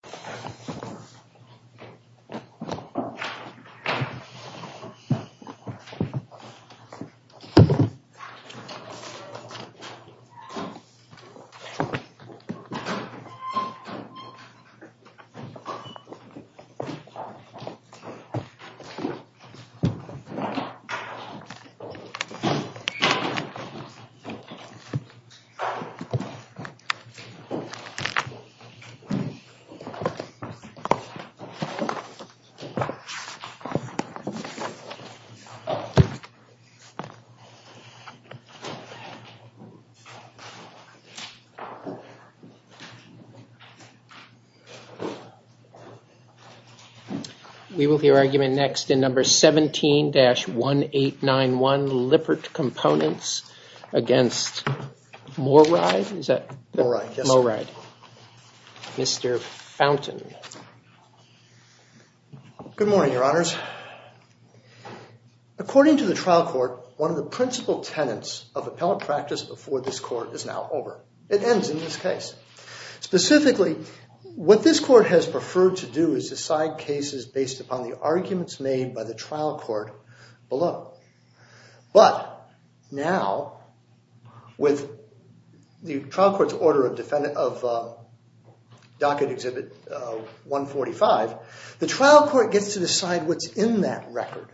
User manual in English 17-1891 Lippert components against Mooride Mooride, yes. Mr. Fountain. Good morning, Your Honors. According to the trial court, one of the principal tenets of appellate practice before this court is now over. It ends in this case. Specifically, what this court has preferred to do is decide cases based upon the arguments made by the trial court below. But now, with the trial court's order of docket exhibit 145, the trial court gets to decide what's in that record,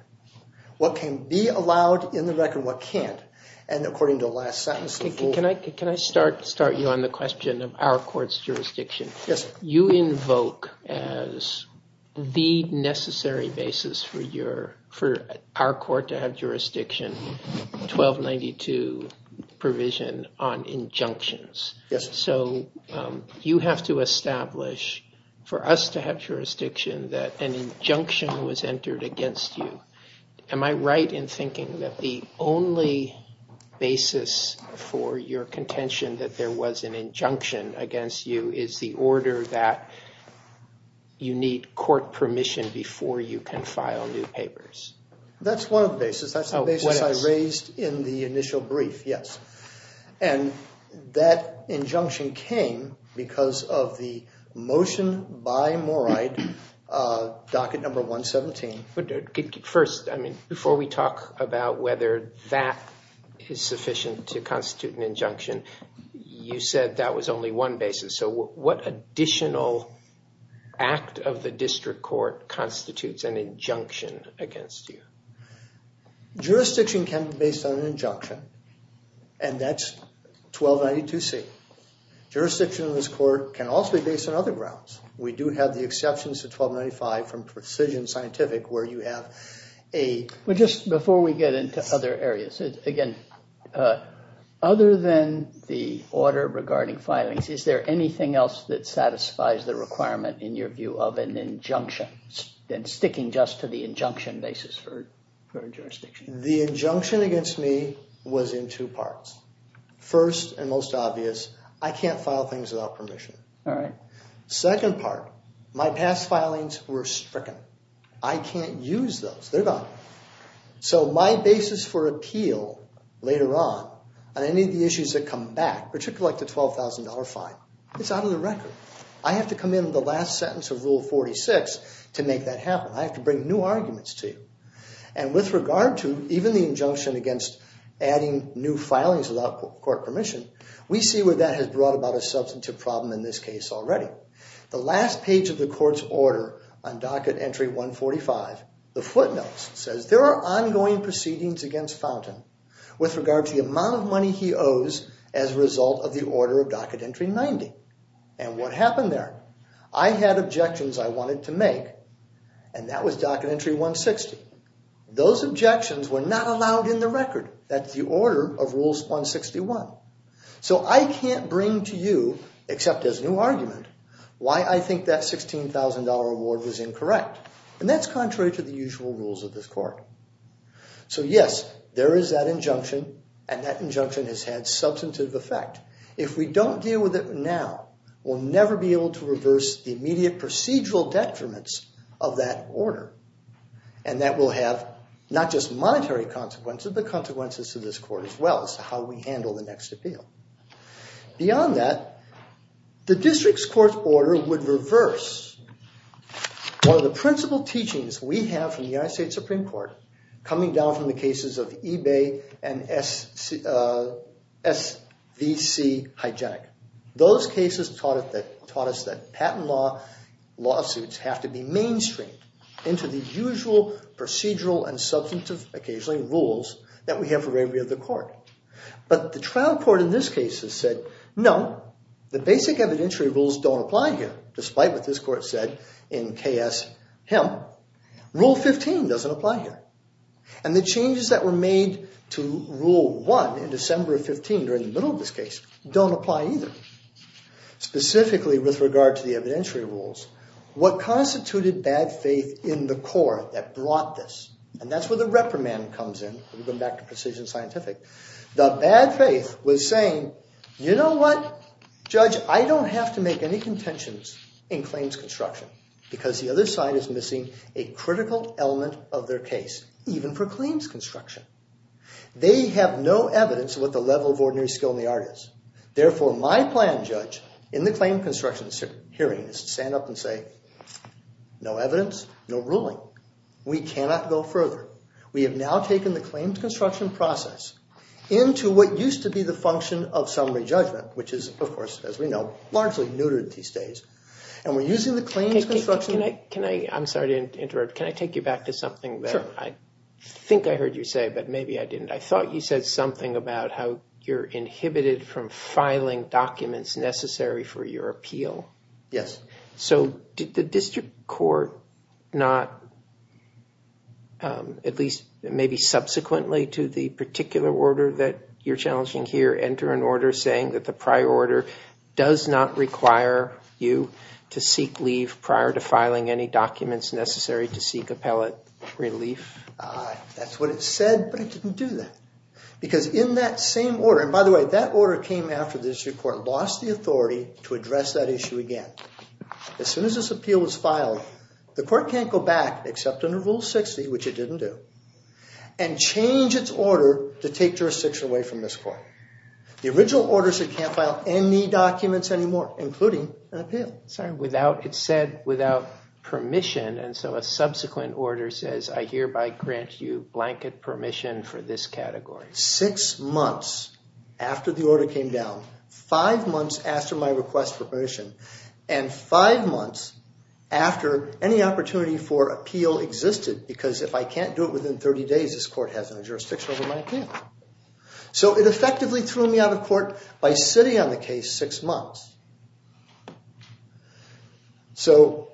what can be allowed in the record, what can't. And according to the last sentence... Can I start you on the question of our court's jurisdiction? Yes. You invoke as the necessary basis for our court to have jurisdiction 1292 provision on injunctions. Yes. So you have to establish for us to have jurisdiction that an injunction was entered against you. Am I right in thinking that the only basis for your contention that there was an injunction against you is the order that you need court permission before you can file new papers? That's one of the basis. That's the basis I raised in the initial brief, yes. And that injunction came because of the motion by Moride, docket number 117. But first, I mean, before we talk about whether that is sufficient to constitute an injunction, you said that was only one basis. So what additional act of the district court constitutes an injunction against you? Jurisdiction can be based on an injunction, and that's 1292C. Jurisdiction in this court can also be based on other grounds. We do have the exceptions to 1295 from Precision Scientific where you have a... Well, just before we get into other areas, again, other than the order regarding filings, is there anything else that satisfies the requirement in your view of an injunction, then sticking just to the injunction basis for jurisdiction? The injunction against me was in two parts. First and most obvious, I can't file things without permission. All right. Second part, my past filings were stricken. I can't use those. They're gone. So my basis for appeal later on on any of the issues that come back, particularly like the $12,000 fine, it's out of the record. I have to come in the last sentence of Rule 46 to make that happen. I have to bring new arguments to you. And with regard to even the injunction against adding new filings without court permission, we see where that has brought about a substantive problem in this case already. The last page of the court's order on docket entry 145, the footnotes, says, there are ongoing proceedings against Fountain with regard to the amount of money he owes as a result of the order of docket entry 90. And what happened there? I had objections I wanted to make, and that was docket entry 160. Those objections were not allowed in the record. That's the order of Rules 161. So I can't bring to you, except as new argument, why I think that $16,000 award was incorrect. And that's contrary to the usual rules of this and that injunction has had substantive effect. If we don't deal with it now, we'll never be able to reverse the immediate procedural detriments of that order. And that will have not just monetary consequences, but consequences to this court as well, as to how we handle the next appeal. Beyond that, the district's court's order would reverse one of the principal teachings we have from the S.V.C. Hygienic. Those cases taught us that patent law lawsuits have to be mainstreamed into the usual procedural and substantive, occasionally, rules that we have for every other court. But the trial court in this case has said, no, the basic evidentiary rules don't apply here, despite what this court said in K.S. Hemp. Rule 15 doesn't apply here. And the changes that were made to Rule 1 in December of 15, during the middle of this case, don't apply either. Specifically with regard to the evidentiary rules, what constituted bad faith in the court that brought this, and that's where the reprimand comes in, going back to precision scientific, the bad faith was saying, you know what, Judge, I don't have to make any contentions in claims construction because the other side is a critical element of their case, even for claims construction. They have no evidence of what the level of ordinary skill in the art is. Therefore, my plan, Judge, in the claim construction hearing, is to stand up and say, no evidence, no ruling. We cannot go further. We have now taken the claims construction process into what used to be the function of summary judgment, which is, of course, as we know, largely neutered these days. And we're using the claims construction... I'm sorry to interrupt. Can I take you back to something that I think I heard you say, but maybe I didn't. I thought you said something about how you're inhibited from filing documents necessary for your appeal. Yes. So did the district court not, at least maybe subsequently to the particular order that you're challenging here, enter an order saying that the prior order does not require you to seek leave prior to filing any documents necessary to seek appellate relief? That's what it said, but it didn't do that. Because in that same order, and by the way, that order came after the district court lost the authority to address that issue again. As soon as this appeal was filed, the court can't go back except under Rule 60, which it didn't do, and change its order to take jurisdiction away from this court. The original order said you can't file any documents anymore, including an appeal. Sorry, without... It said without permission, and so a subsequent order says, I hereby grant you blanket permission for this category. Six months after the order came down, five months after my request for permission, and five months after any opportunity for appeal existed, because if I can't do it within 30 days, this court has no jurisdiction over my channel. So it effectively threw me out of court by sitting on the case six months. So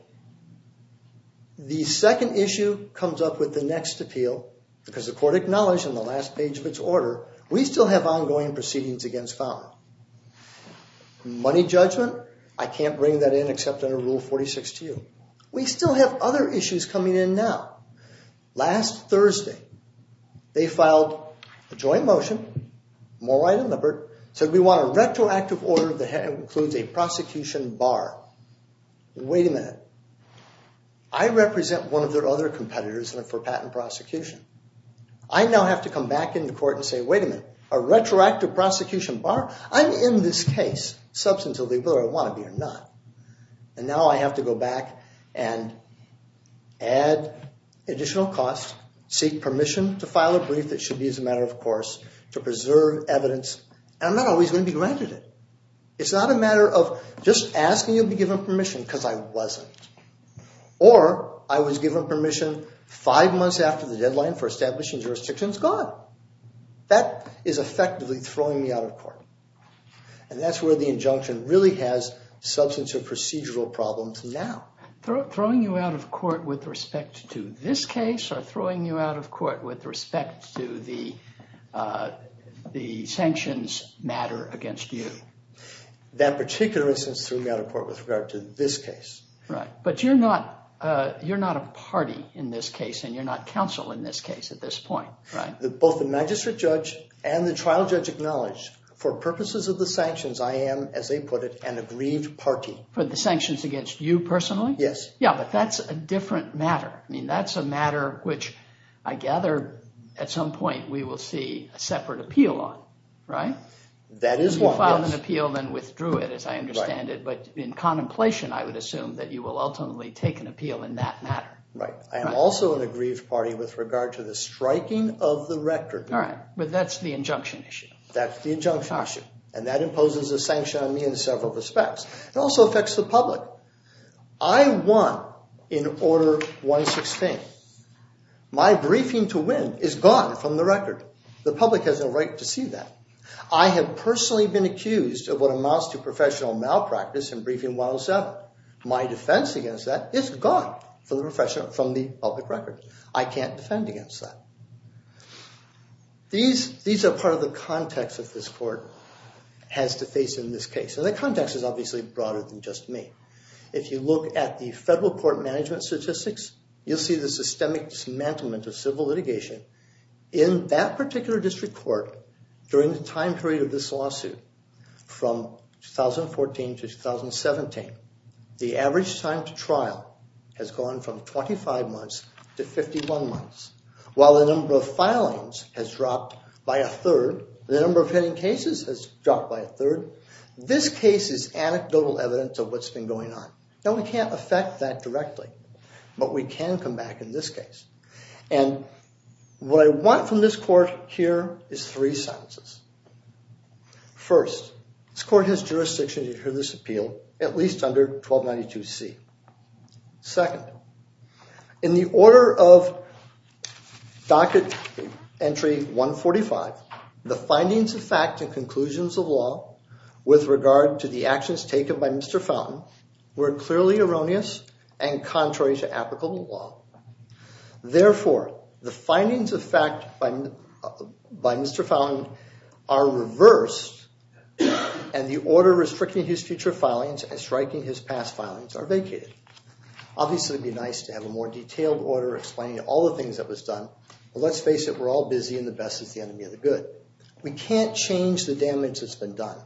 the second issue comes up with the next appeal, because the court acknowledged in the last page of its order, we still have ongoing proceedings against fouling. Money judgment, I can't bring that in except under Rule 46 to We still have other issues coming in now. Last Thursday, they filed a joint motion, Mulright and Lippert, said we want a retroactive order that includes a prosecution bar. Wait a minute, I represent one of their other competitors for patent prosecution. I now have to come back into court and say, wait a minute, a retroactive prosecution bar? I'm in this case, substantively, whether I have to go back and add additional costs, seek permission to file a brief that should be as a matter of course, to preserve evidence. I'm not always going to be granted it. It's not a matter of just asking you to be given permission, because I wasn't. Or I was given permission five months after the deadline for establishing jurisdiction, it's gone. That is effectively throwing me out of court. And that's where the injunction really has substance or now. Throwing you out of court with respect to this case or throwing you out of court with respect to the the sanctions matter against you? That particular instance threw me out of court with regard to this case. Right, but you're not you're not a party in this case and you're not counsel in this case at this point, right? Both the magistrate judge and the trial judge acknowledged for purposes of the sanctions I am, as they put it, an aggrieved party. For the you personally? Yes. Yeah, but that's a different matter. I mean that's a matter which I gather at some point we will see a separate appeal on, right? That is one. You filed an appeal then withdrew it, as I understand it, but in contemplation I would assume that you will ultimately take an appeal in that matter. Right. I am also an aggrieved party with regard to the striking of the rector. All right, but that's the injunction issue. That's the injunction issue and that imposes a public. I won in order 116. My briefing to win is gone from the record. The public has a right to see that. I have personally been accused of what amounts to professional malpractice in briefing 107. My defense against that is gone from the public record. I can't defend against that. These are part of the context that this court has to face in this case. The context is obviously broader than just me. If you look at the federal court management statistics, you'll see the systemic dismantlement of civil litigation in that particular district court during the time period of this lawsuit from 2014 to 2017. The average time to trial has gone from 25 months to 51 months. While the number of filings has dropped by a third, the number of cases anecdotal evidence of what's been going on. Now we can't affect that directly, but we can come back in this case. And what I want from this court here is three sentences. First, this court has jurisdiction to hear this appeal at least under 1292 C. Second, in the order of docket entry 145, the findings of fact and conclusions of law with regard to the actions taken by Mr. Fountain were clearly erroneous and contrary to applicable law. Therefore, the findings of fact by Mr. Fountain are reversed and the order restricting his future filings and striking his past filings are vacated. Obviously, it'd be nice to have a more detailed order explaining all the things that was done, but let's change the damage that's been done.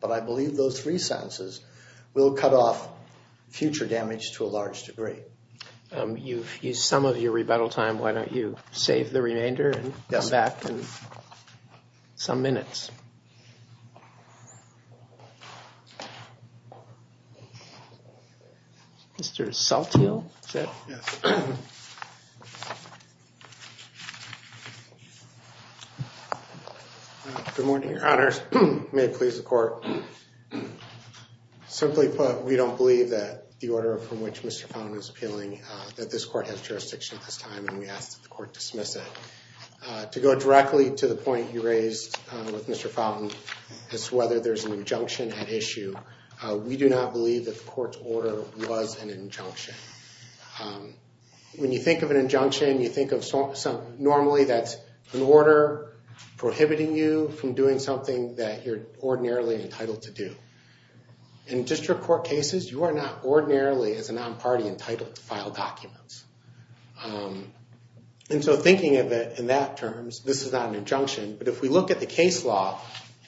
But I believe those three sentences will cut off future damage to a large degree. You've used some of your rebuttal time, why don't you save the remainder and come back in some minutes. Mr. Salthill. Good morning, your honors. May it please the court. Simply put, we don't believe that the order from which Mr. Fountain is appealing that this court has jurisdiction at this time and we ask that the court dismiss it. To go directly to the Mr. Fountain as to whether there's an injunction at issue, we do not believe that the court's order was an injunction. When you think of an injunction, you think of something normally that's an order prohibiting you from doing something that you're ordinarily entitled to do. In district court cases, you are not ordinarily as a non-party entitled to file documents. And so thinking of it in that terms, this is not an injunction. But if we look at the case law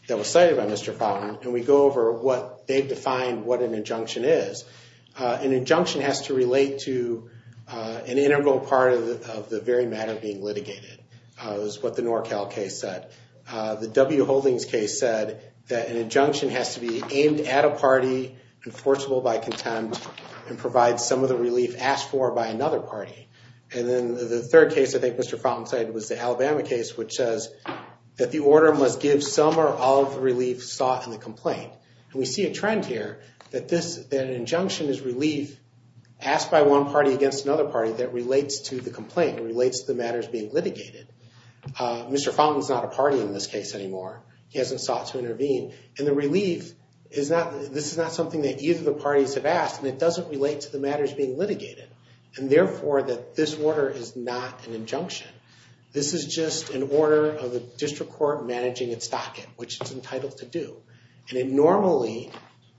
that was cited by Mr. Fountain and we go over what they've defined what an injunction is, an injunction has to relate to an integral part of the very matter being litigated. It was what the NorCal case said. The W. Holdings case said that an injunction has to be aimed at a party, enforceable by contempt, and provide some of the relief asked for by another party. And then the third case I think Mr. Fountain cited was the Alabama case which says that the order must give some or all of the relief sought in the complaint. And we see a trend here that an injunction is relief asked by one party against another party that relates to the complaint, relates to the matters being litigated. Mr. Fountain is not a party in this case anymore. He hasn't sought to intervene. And the relief is not, this is not something that either of the parties have asked and it doesn't relate to the matters being litigated. And therefore that this order is not an injunction. This is just an order of the district court managing its docket, which it's entitled to do. And it normally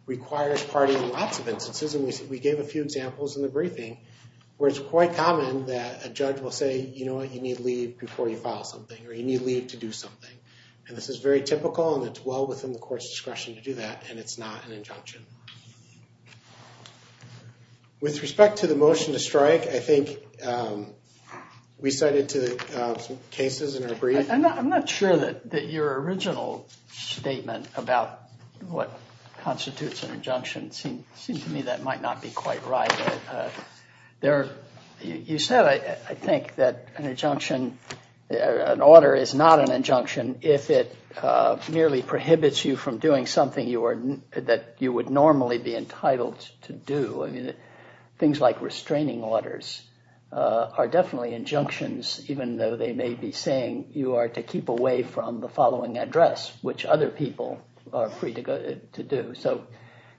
requires partying lots of instances and we gave a few examples in the briefing where it's quite common that a judge will say, you know what, you need leave before you file something or you need leave to do something. And this is very typical and it's well within the court's discretion to do that and it's not an injunction. With respect to the motion to strike, I think we cited two cases in our brief. I'm not sure that your original statement about what constitutes an injunction. It seems to me that might not be quite right. There, you said, I think that an injunction, an order is not an injunction if it merely prohibits you from doing something you are, that you would normally be entitled to do. I mean things like restraining orders are definitely injunctions even though they may be saying you are to keep away from the following address, which other people are free to go to do. So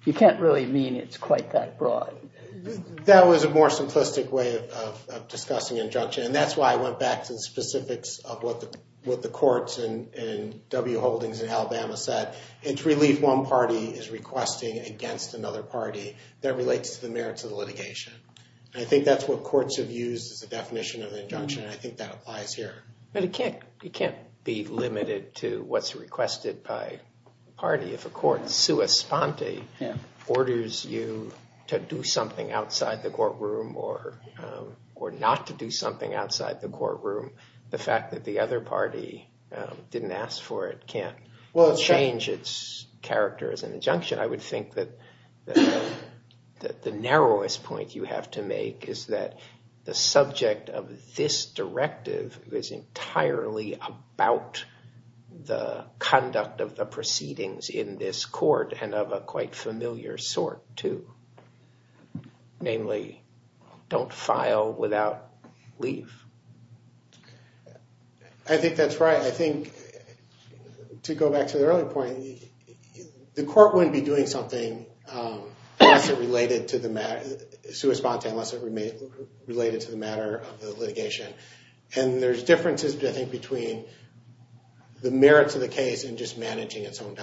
you can't really mean it's quite that broad. That was a more simplistic way of discussing injunction and that's why I went back to specifics of what the courts and W Holdings in Alabama said. It's really if one party is requesting against another party that relates to the merits of the litigation. I think that's what courts have used as a definition of the injunction. I think that applies here. But it can't be limited to what's requested by the party. If a court, sua sponte, orders you to do something outside the courtroom or not to do something outside the courtroom, the fact that the other party didn't ask for it can't well change its character as an injunction. I would think that the narrowest point you have to make is that the subject of this directive is entirely about the conduct of the namely don't file without leave. I think that's right. I think to go back to the earlier point, the court wouldn't be doing something related to the matter sua sponte unless it remain related to the matter of the litigation. And there's differences I think between the merits of the case and just managing its own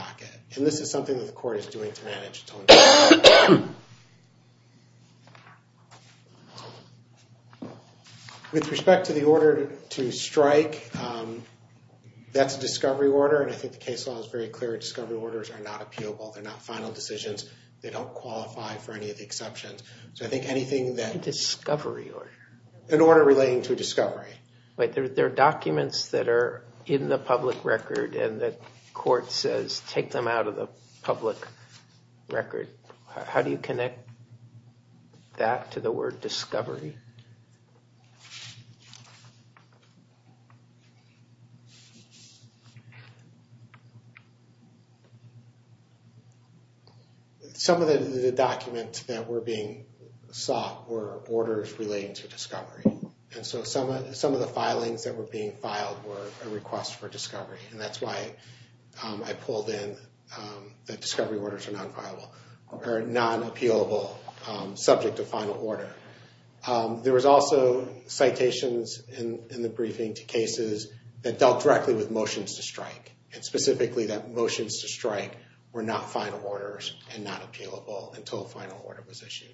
With respect to the order to strike, that's a discovery order and I think the case law is very clear. Discovery orders are not appealable. They're not final decisions. They don't qualify for any of the exceptions. So I think anything that discovery or an order relating to a discovery. Wait, there are documents that are in the public record and that court says take them out of the public record. How do you connect that to the word discovery? Some of the documents that were being sought were orders relating to discovery. And so some of the filings that were being filed were a request for non-appealable subject to final order. There was also citations in the briefing to cases that dealt directly with motions to strike and specifically that motions to strike were not final orders and not appealable until a final order was issued.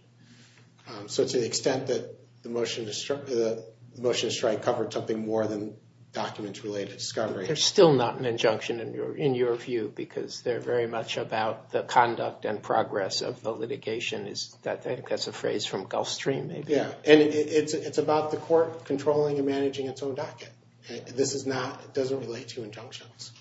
So to the extent that the motion to strike covered something more than documents related to discovery. They're still not an injunction in your view because they're very much about the conduct and progress of the litigation. I think that's a phrase from Gulfstream. Yeah and it's about the court controlling and managing its own docket. This is not, it doesn't relate to injunctions.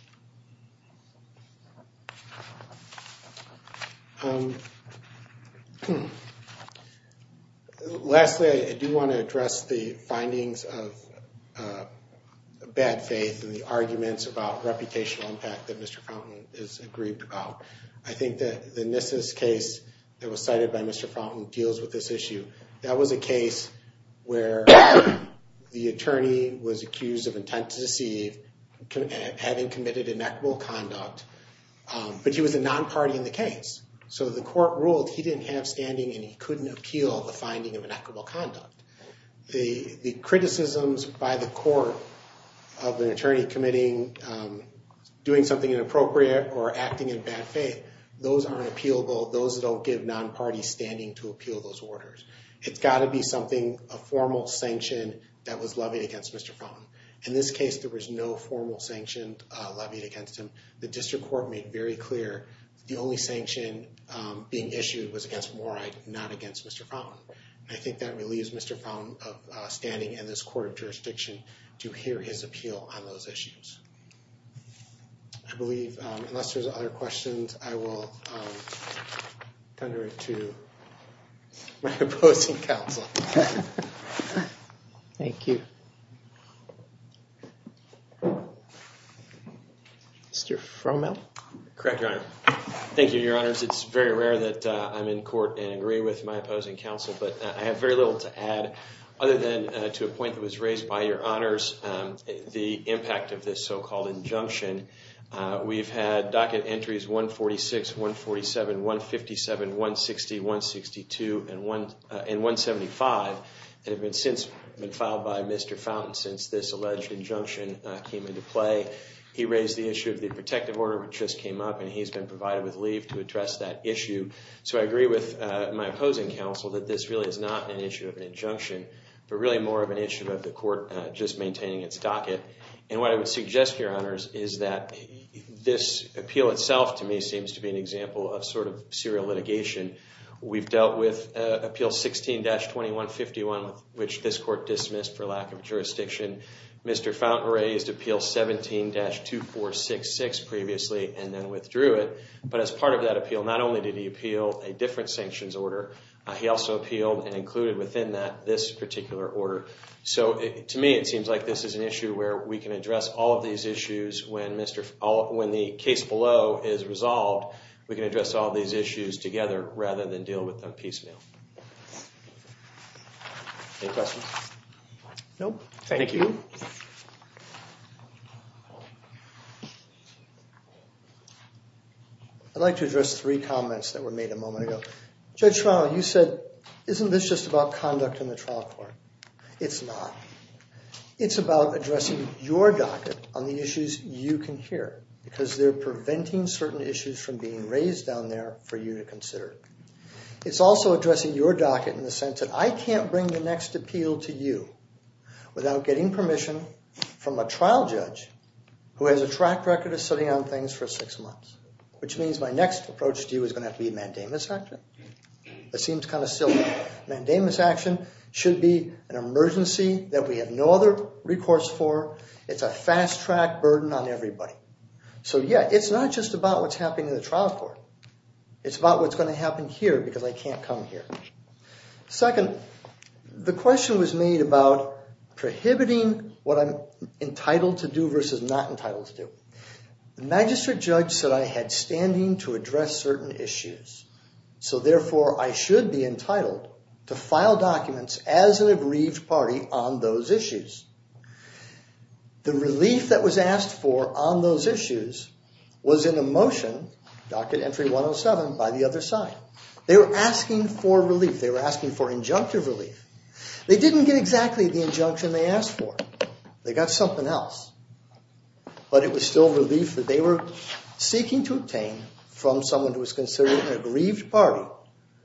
Lastly, I do want to address the findings of bad faith and the fact that Mr. Fountain is aggrieved about. I think that the Nissus case that was cited by Mr. Fountain deals with this issue. That was a case where the attorney was accused of intent to deceive, having committed inequitable conduct, but he was a non-party in the case. So the court ruled he didn't have standing and he couldn't appeal the finding of inequitable conduct. The criticisms by the court of or acting in bad faith, those aren't appealable. Those don't give non-party standing to appeal those orders. It's got to be something, a formal sanction that was levied against Mr. Fountain. In this case, there was no formal sanction levied against him. The district court made very clear the only sanction being issued was against Moride, not against Mr. Fountain. I think that relieves Mr. Fountain of this court of jurisdiction to hear his appeal on those issues. I believe, unless there's other questions, I will turn it over to my opposing counsel. Thank you. Mr. Frommel? Correct, Your Honor. Thank you, Your Honors. It's very rare that I'm in court and agree with my opposing counsel, but I have very little to add other than to a point that was raised by Your Honors, the impact of this so-called injunction. We've had docket entries 146, 147, 157, 160, 162, and 175 that have been since been filed by Mr. Fountain since this alleged injunction came into play. He raised the issue of the protective order which just came up and he's been provided with leave to address that issue. So I agree with my opposing counsel that this really is not an issue of an injunction, but really more of an issue of the court just maintaining its docket. And what I would suggest, Your Honors, is that this appeal itself to me seems to be an example of sort of serial litigation. We've dealt with Appeal 16-2151, which this court dismissed for lack of jurisdiction. Mr. Fountain raised Appeal 17-2466 previously and then withdrew it. But as part of that appeal, not only did he order, he also appealed and included within that this particular order. So to me it seems like this is an issue where we can address all of these issues when Mr. Fountain, when the case below is resolved, we can address all these issues together rather than deal with them piecemeal. No, thank you. I'd like to address three comments that were made a moment ago. Judge Schvarno, you said, isn't this just about conduct in the trial court? It's not. It's about addressing your docket on the issues you can hear because they're preventing certain issues from being raised down there for you to consider. It's also addressing your docket in the sense that I can't bring the next appeal to you without getting permission from a trial judge who has a track record of sitting on things for six months, which means my next approach to you is going to be mandamus action. That seems kind of silly. Mandamus action should be an emergency that we have no other recourse for. It's a fast-track burden on everybody. So yeah, it's not just about what's happening in the trial court. It's about what's going to happen here because I can't come here. Second, the question was made about prohibiting what I'm entitled to do versus not entitled to do. The magistrate judge said I had standing to address certain issues, so therefore I should be entitled to file documents as an aggrieved party on those issues. The relief that was asked for on those issues was in a motion, docket entry 107, by the other side. They were asking for relief. They were asking for injunctive relief. They didn't get exactly the injunction they asked for. They got something else, but it was still relief that they were seeking to obtain from someone who was considered an aggrieved party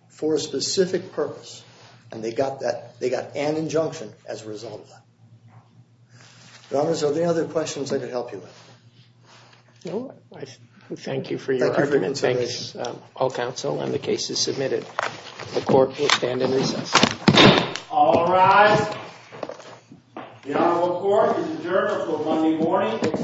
for a specific purpose, and they got that. They got an injunction as a result of that. Your Honors, are there any other questions I could help you with? No, I thank you for your argument. Thank you for your consideration. All counsel and the cases submitted, the court will stand in recess. All rise. The Honorable Court is adjourned until Monday morning, 6 o'clock a.m.